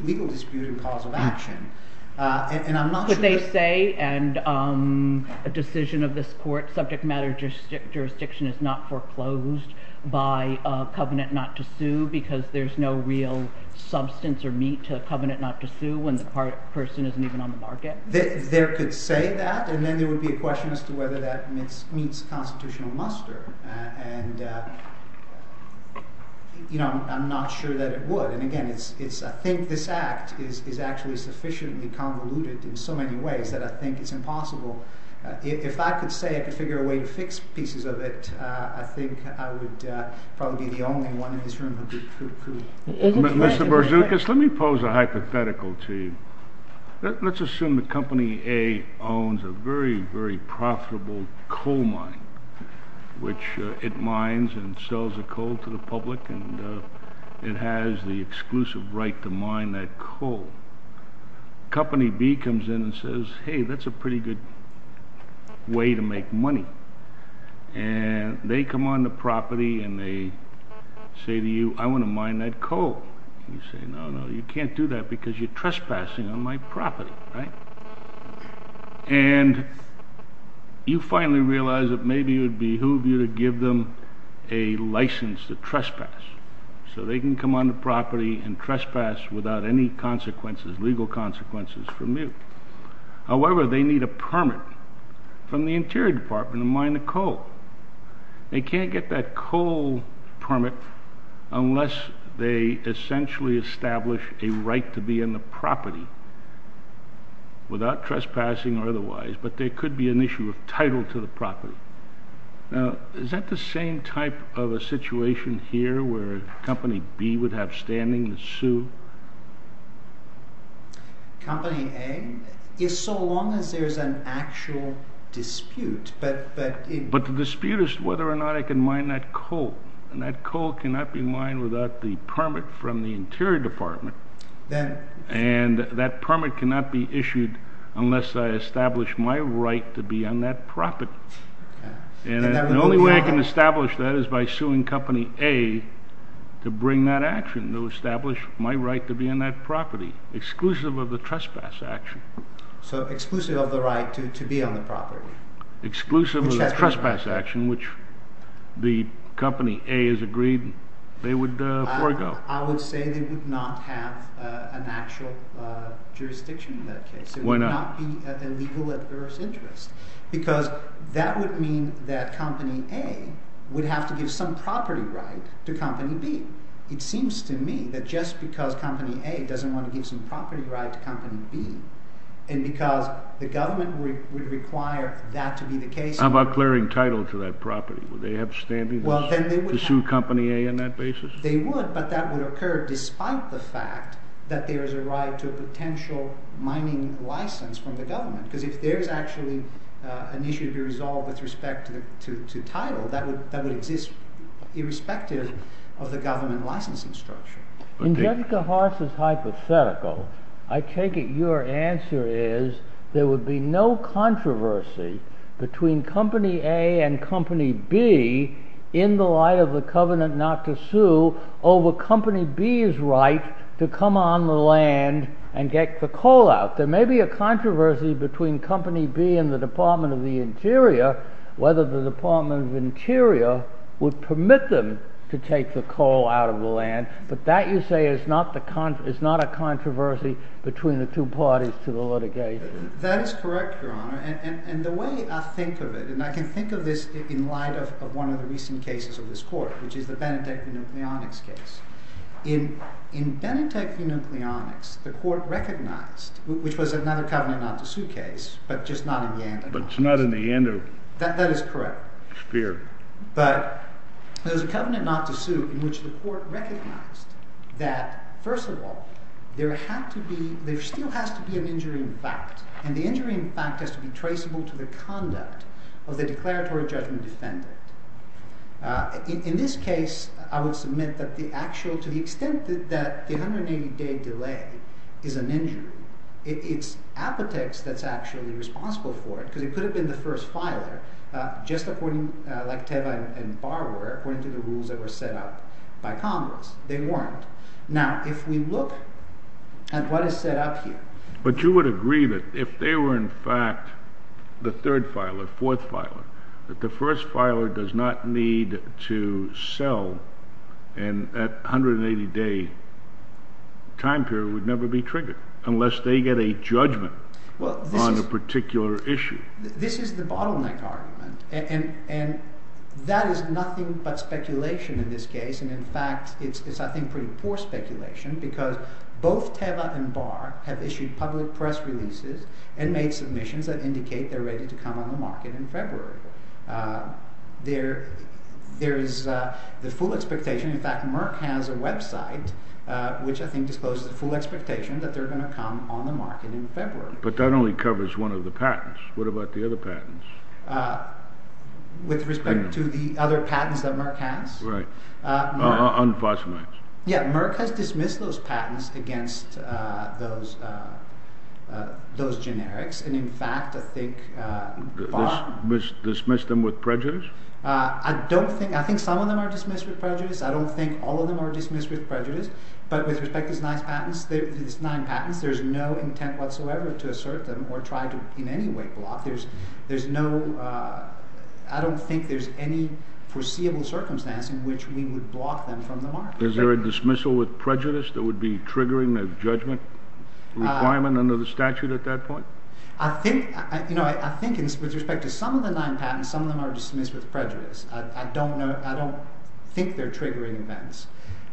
legal dispute and cause of action. But they say, and a decision of this court, subject matter jurisdiction is not foreclosed by a covenant not to sue because there's no real substance or meat to a covenant not to sue when the person isn't even on the market. There could say that, and then there would be a question as to whether that meets constitutional muster. And... You know, I'm not sure that it would. And again, I think this act is actually sufficiently convoluted in so many ways that I think it's impossible. If I could say I could figure a way to fix pieces of it, I think I would probably be the only one in this room who could. Mr. Berzoukas, let me pose a hypothetical to you. Let's assume that Company A owns a very, very profitable coal mine which it mines and sells the coal to the public and it has the exclusive right to mine that coal. Company B comes in and says, hey, that's a pretty good way to make money. And they come on the property and they say to you, I want to mine that coal. You say, no, no, you can't do that because you're trespassing on my property. Right? And... you finally realize that maybe it would behoove you to give them a license to trespass. So they can come on the property and trespass without any consequences, legal consequences, from you. However, they need a permit from the Interior Department to mine the coal. They can't get that coal permit unless they essentially establish a right to be on the property without trespassing or otherwise, but there could be an issue of title to the property. Now, is that the same type of a situation here where Company B would have standing to sue? Company A? Yes, so long as there's an actual dispute, but the dispute is whether or not I can mine that coal. And that coal cannot be mined without the permit from the Interior Department. And that permit cannot be issued unless I establish my right to be on that property. And the only way I can establish that is by suing Company A to bring that action, to establish my right to be on that property. Exclusive of the trespass action. So exclusive of the right to be on the property. Exclusive of the trespass action, which the Company A has agreed they would forego. I would say they would not have an actual jurisdiction in that case. It would not be a legal adverse interest. Because that would mean that Company A would have to give some property right to Company B. It seems to me that just because Company A doesn't want to give some property right to Company B and because the government would require that to be the case. How about clearing title to that property? Would they have standing to sue Company A on that basis? They would, but that would occur despite the fact that there is a right to a potential mining license from the government. Because if there is actually an issue to be resolved with respect to title, that would exist irrespective of the government licensing structure. In Jessica Horst's hypothetical, I take it your answer is there would be no controversy between Company A and Company B in the light of the covenant not to sue over Company B's right to come on the land and get the coal out. There may be a controversy between Company B and the Department of the Interior, whether the Department of Interior would permit them to take the coal out of the land, but that you say is not a controversy between the two parties to the litigation. That is correct, Your Honor. And the way I think of it, and I can think of this in light of one of the recent cases of this court, which is the Benetech-Nucleonics case. In Benetech-Nucleonics, the court recognized, which was another covenant not to sue case, but just not in Yander. But it's not in the Yander sphere. That is correct. But there's a covenant not to sue in which the court recognized that first of all, there had to be, there still has to be an injury in fact, and the injury in fact has to be traceable to the conduct of the declaratory judgment defendant. In this case, I would submit that the actual, to the extent that the 180-day delay is an injury, it's Apotex that's actually responsible for it, because it could have been the first filer, just according like Teva and Barr were, according to the rules that were set up by Congress. They weren't. Now, if we look at what is set up here... But you would agree that if they were in fact the third filer, fourth filer, that the first filer does not need to sell and that 180-day time period would never be triggered, unless they get a judgment on a particular issue. This is the bottleneck argument, and that is nothing but speculation in this case, and in fact, it's I think pretty poor speculation, because both Teva and Barr have issued public press releases and made submissions that indicate they're ready to come on the market in February. There is the full expectation, in fact, Merck has a website, which I think discloses the full expectation that they're going to come on the market in February. But that only covers one of the patents. What about the other patents? With respect to the other patents that Merck has? Right. Unfortunately. Yeah, Merck has dismissed those patents against those generics, and in fact I think Barr... Dismissed them with prejudice? I don't think... I think some of them are dismissed with prejudice. I don't think all of them are dismissed with prejudice, but with respect to these nine patents, there's no intent whatsoever to assert them or try to in any way block them. There's no... I don't think there's any foreseeable circumstance in which we would block them from the market. Is there a dismissal with prejudice that would be triggering a judgment requirement under the statute at that point? I think with respect to some of the nine patents, some of them are dismissed with prejudice. I don't think they're triggering events.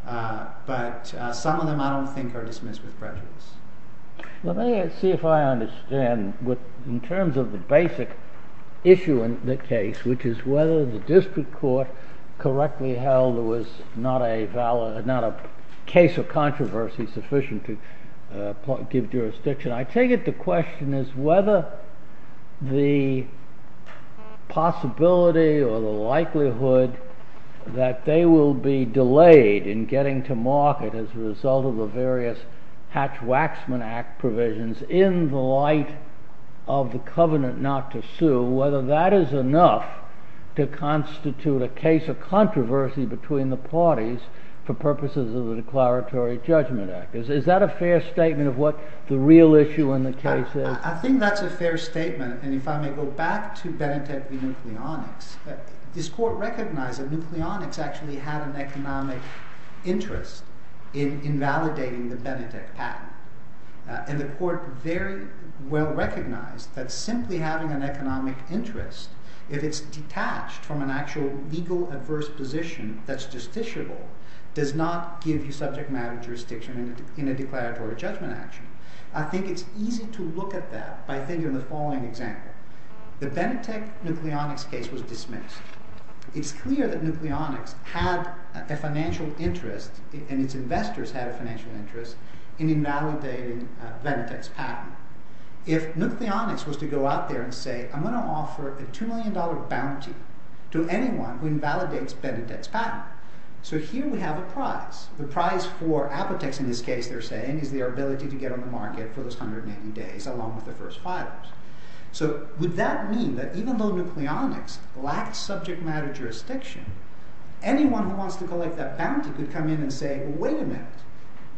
But some of them I don't think are dismissed with prejudice. Let me see if I understand in terms of the basic issue in the case, which is whether the district court correctly held it was not a case of controversy sufficient to give jurisdiction. I take it the question is whether the possibility or the likelihood that they will be delayed in getting to market as a result of the various Hatch-Waxman Act provisions in the light of the covenant not to sue, whether that is enough to constitute a case of controversy between the parties for purposes of the Declaratory Judgment Act. Is that a fair statement of what the real issue in the case is? I think that's a fair statement and if I may go back to Benetech v. Nucleonics, this court recognized that Nucleonics actually had an economic interest in invalidating the Benetech patent and the court very well recognized that simply having an economic interest if it's detached from an actual legal adverse position that's justiciable does not give you subject matter jurisdiction in a Declaratory Judgment Act. I think it's easy to look at that by thinking of the following example. The Benetech v. Nucleonics case was dismissed. It's clear that Nucleonics had a financial interest and its investors had a financial interest in invalidating Benetech's patent. If Nucleonics was to go out there and say I'm going to offer a $2 million bounty to anyone who invalidates Benetech's patent. So here we have a prize. The prize for Apotex in this case, they're saying, is their ability to get on the market for those 180 days along with their first filings. So would that mean that even though Nucleonics lacks subject matter jurisdiction, anyone who wants to collect that bounty could come in and say, wait a minute,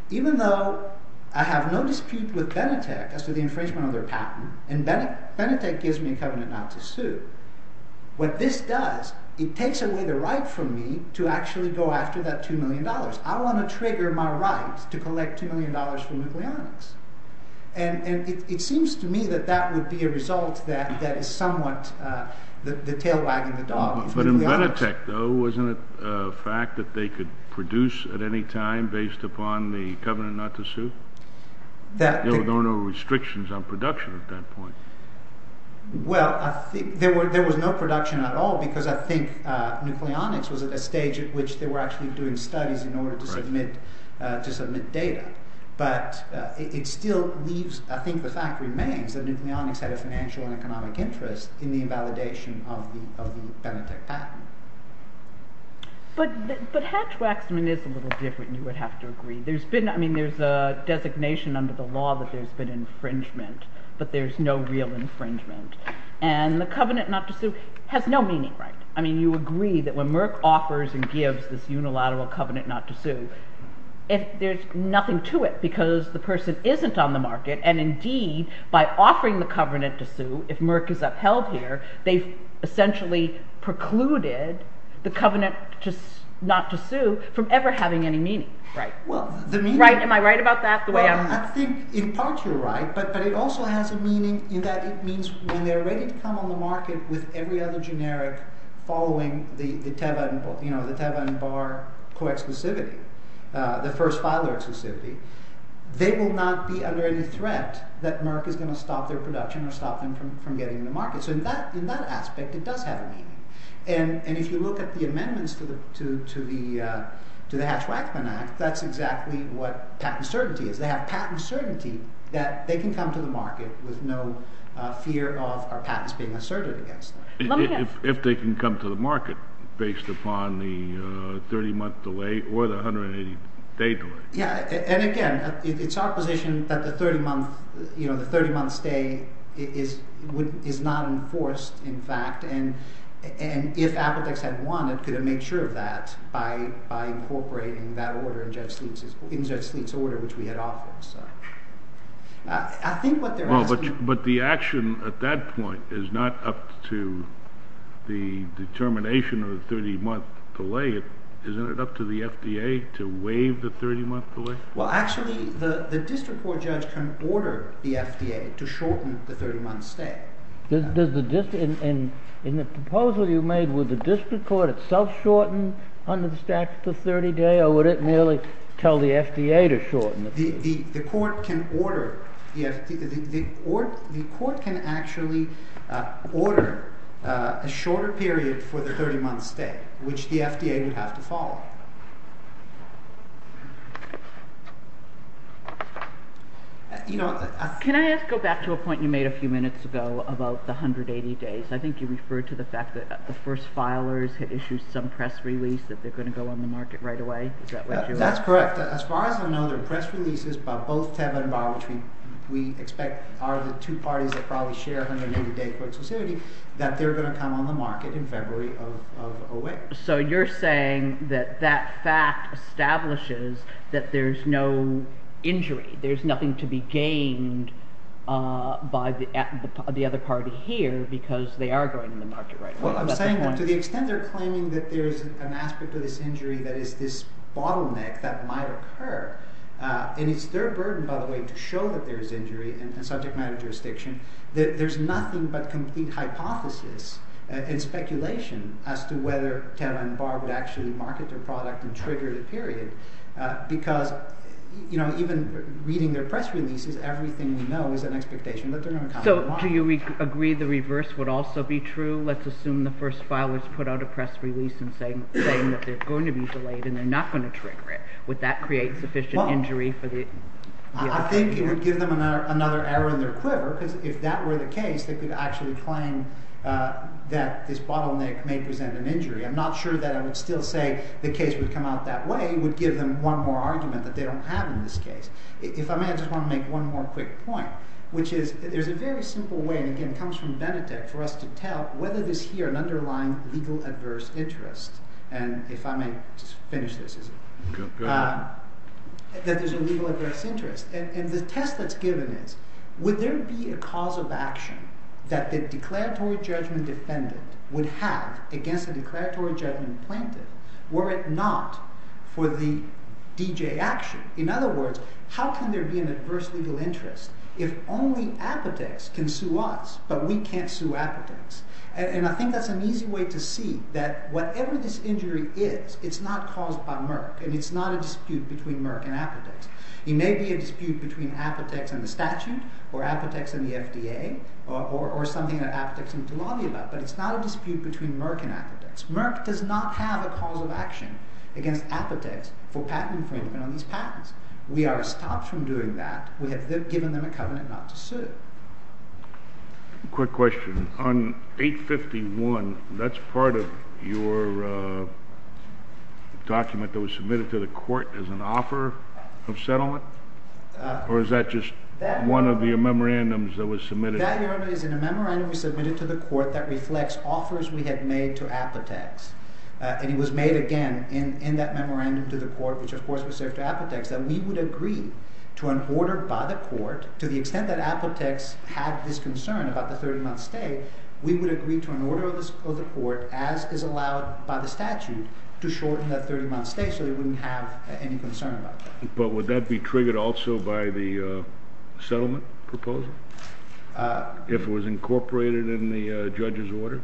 even though I have no dispute with Benetech as to the infringement of their patent, and Benetech gives me a covenant not to sue, what this does, it takes away the right from me to actually go after that $2 million. I want to trigger my right to collect $2 million from Nucleonics. And it seems to me that that would be a result that is somewhat the tail wagging the dog. But in Benetech though, wasn't it a fact that they could produce at any time based upon the covenant not to sue? There were no restrictions on production at that point. Well, there was no production at all because I think Nucleonics was at a stage at which they were actually doing studies in order to submit data. But it still leaves, I think the fact remains that Nucleonics had a financial and economic interest in the invalidation of the Benetech patent. But Hatch-Waxman is a little different, you would have to agree. There's a designation under the law that there's been infringement, but there's no real infringement. And the covenant not to sue has no meaning, right? I mean, you agree that when Merck offers and gives this unilateral covenant not to sue, there's nothing to it because the person isn't on the market, and indeed, by offering the covenant to sue, if Merck is upheld here, they've essentially precluded the covenant not to sue from ever having any meaning, right? Am I right about that? I think in part you're right, but it also has a meaning in that it means when they're ready to come on the market with every other generic following the Teva and Barr co-exclusivity, the first filer exclusivity, they will not be under any threat that Merck is going to stop their production or stop them from getting to the market. So in that aspect, it does have a meaning. And if you look at the amendments to the Hatch-Waxman Act, that's exactly what patent certainty is. They have patent certainty that they can come to the market with no fear of our patents being asserted against them. If they can come to the market based upon the 30-month delay or the 180-day delay. And again, it's our position that the 30-month stay is not enforced, in fact. And if Appledex had won, it could have made sure of that by incorporating that order in Judge Sleet's order, which we had offered. I think what they're asking... But the action at that point is not up to the determination of the 30-month delay. Isn't it up to the FDA to waive the 30-month delay? Well, actually, the district court judge can order the FDA to shorten the 30-month stay. In the proposal you made, would the district court itself shorten under the statute the 30-day, or would it merely tell the FDA to shorten it? The court can order... The court can actually order a shorter period for the 30-month stay, which the FDA would have to follow. Can I go back to a point you made a few minutes ago about the 180 days? I think you referred to the fact that the first filers had issued some press release that they're going to go on the market right away. Is that what you're... That's correct. As far as I know, there are press releases by both Teva and Barr, which we expect are the two parties that probably share 180-day court solicity, that they're going to come on the market in February of 08. So you're saying that that fact establishes that there's no injury. There's nothing to be gained by the other party here because they are going on the market right away. Well, I'm saying that to the extent they're claiming that there's an aspect of this injury that is this bottleneck that might occur, and it's their burden, by the way, to show that there's injury in subject matter jurisdiction, that there's nothing but complete hypothesis and speculation as to whether Teva and Barr would actually market their product and trigger the period because, you know, even reading their press releases, everything we know is an expectation that they're going to come on the market. So do you agree the reverse would also be true? Let's assume the first filers put out a press release saying that they're going to be delayed and they're not going to trigger it. Would that create sufficient injury for the... I think it would give them another error in their quiver because if that were the case, they could actually claim that this bottleneck may present an injury. I'm not sure that I would still say the case would come out that way. It would give them one more argument that they don't have in this case. If I may, I just want to make one more quick point, which is there's a very simple way, and again, it comes from Benetech, for us to tell whether there's here an underlying legal adverse interest. And if I may just finish this, is it? Go ahead. That there's a legal adverse interest. And the test that's given is would there be a cause of action that the declaratory judgment defendant would have against a declaratory judgment plaintiff were it not for the D.J. action? In other words, how can there be an adverse legal interest if only Apotex can sue us, but we can't sue Apotex? And I think that's an easy way to see that whatever this injury is, it's not caused by Merck, and it's not a dispute between Apotex and the statute, or Apotex and the FDA, or something that Apotex needs to lobby about, but it's not a dispute between Merck and Apotex. Merck does not have a cause of action against Apotex for patent infringement on these patents. We are stopped from doing that. We have given them a covenant not to sue. Quick question. On 851, that's part of your document that was submitted to the court as an offer of settlement? Or is that just one of your memorandums that was submitted? That memorandum was submitted to the court that reflects offers we had made to Apotex. And it was made again in that memorandum to the court, which of course was sent to Apotex, that we would agree to an order by the court to the extent that Apotex had this concern about the 30-month stay, we would agree to an order of the court as is allowed by the statute to shorten that 30-month stay so they wouldn't have any concern about that. But would that be triggered also by the settlement proposal? If it was incorporated in the judge's order?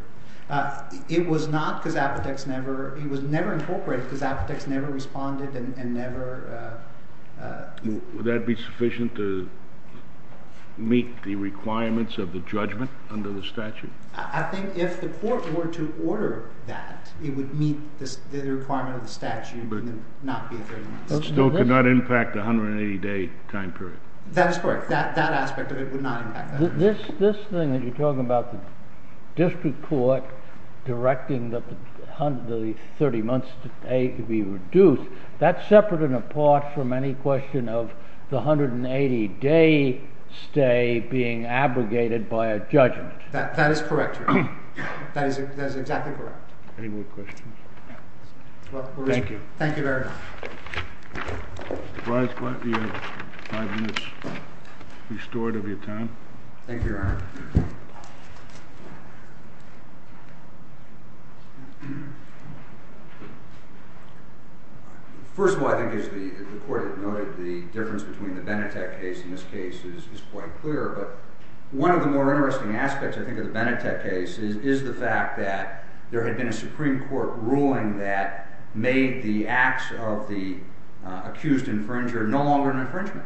It was not because Apotex never, it was never incorporated because Apotex never responded and never... Would that be sufficient to meet the requirements of the judgment under the statute? I think if the court were to order that, it would meet the requirement of the statute and not be a 30-month stay. It still could not impact the 180-day time period. That is correct. That aspect of it would not impact that. This thing that you're talking about, the district court directing the 30-month stay to be reduced, that's separate and apart from any question of the 180-day stay being abrogated by a judgment. That is correct, Your Honor. That is exactly correct. Any more questions? Thank you. Thank you very much. Mr. Brise, you have five minutes restored of your time. Thank you, Your Honor. First of all, I think as the court noted, the difference between the Benetech case and this case is quite clear, but one of the more interesting aspects, I think, of the Benetech case is the fact that there had been a Supreme Court ruling that made the acts of the accused infringer no longer an infringement,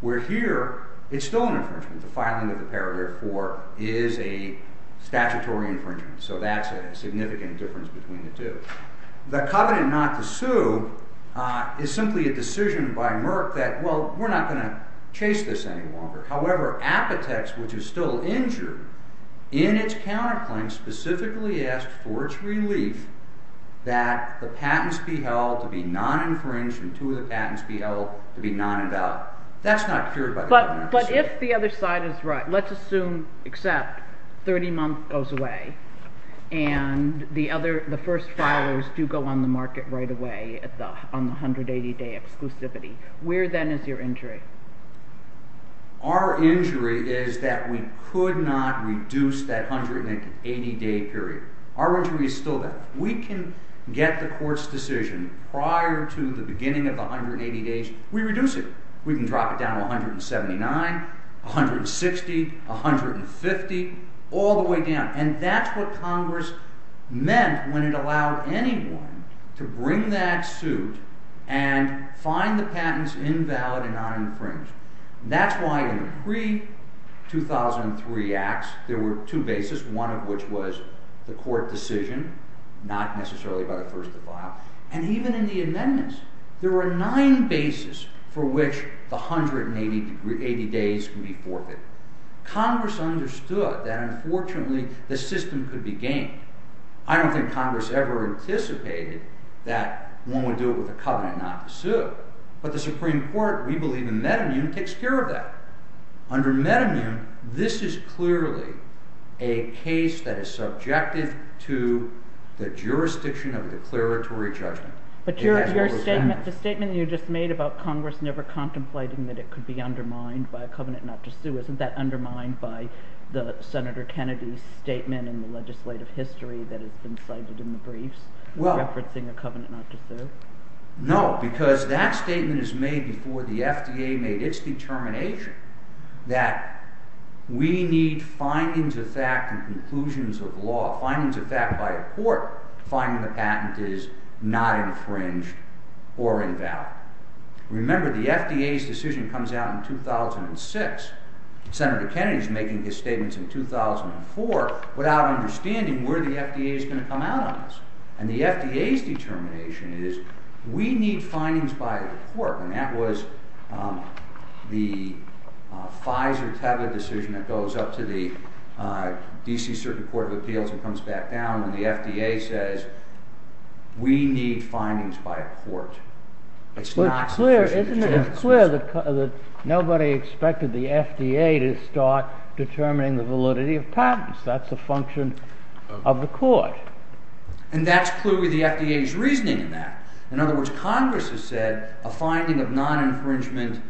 where here it's still an infringement. The filing of the parole therefore is a statutory infringement, so that's a significant difference between the two. The covenant not to sue is simply a decision by Merck that, well, we're not going to chase this any longer. However, Apotex, which is still injured, in its counterclaim specifically asks for its relief that the patents be held to be non-infringed and two of the patents be held to be non-invalid. That's not cured by the covenant. But if the other side is right, let's assume except 30 months goes away, and the first filers do go on the market right away on the 180-day exclusivity, where then is your injury? Our injury is that we could not reduce that 180-day period. Our injury is still there. We can get the Court's decision prior to the beginning of the 180 days, we reduce it. We can drop it down to 179, 160, 150, all the way down. And that's what Congress meant when it allowed anyone to bring that suit and find the patents invalid and non-infringed. That's why in the pre- 2003 Acts there were two bases, one of which was the Court decision, not necessarily by the first of the file, and even in the amendments, there were nine bases for which the 180 days can be forfeited. Congress understood that unfortunately the system could be gamed. I don't think Congress ever anticipated that one would do it with a covenant not to sue. But the Supreme Court, we believe in metamune, takes care of that. Under metamune, this is clearly a case that is subjected to the jurisdiction of a declaratory judgment. But the statement you just made about Congress never contemplating that it could be undermined by a covenant not to sue, isn't that undermined by Senator Kennedy's statement in the legislative history that has been cited in the briefs referencing a covenant not to sue? No, because that statement is made before the FDA made its determination that we need findings of fact and conclusions of law, findings of fact by a Court, finding the patent is not infringed or invalid. Remember, the FDA's decision comes out in 2006. Senator Kennedy's making his statements in 2004 without understanding where the FDA is going to come out on this. And the FDA's determination is we need findings by a Court. And that was the FISA decision that goes up to the D.C. Circuit Court of Appeals and comes back down when the FDA says we need findings by a Court. It's not sufficient. It's clear that nobody expected the FDA to start determining the validity of patents. That's a function of the Court. And that's clearly the FDA's reasoning in that. In other words, Congress has said a finding of non-infringement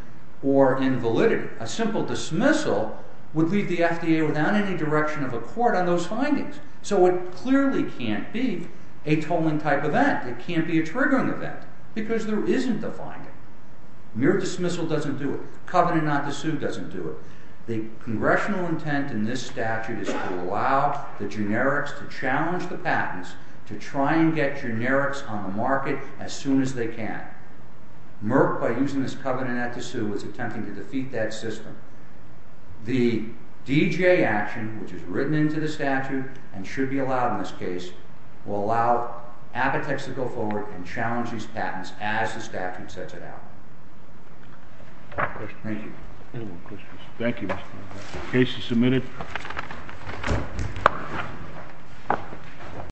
or invalidity, a simple dismissal would leave the FDA without any direction of a Court on those findings. So it clearly can't be a tolling type event. It can't be a triggering event because there isn't a finding. Mere dismissal doesn't do it. Covenant not to sue doesn't do it. The congressional intent in this statute is to allow the generics to challenge the patents to try and get generics on the market as soon as they can. Merck, by using this covenant not to sue, is attempting to defeat that system. The D.J. action, which is written into the statute and should be allowed in this case, will allow Apotex to go forward and challenge these patents as the statute sets it out. Thank you. Any more questions? Thank you. Case is submitted.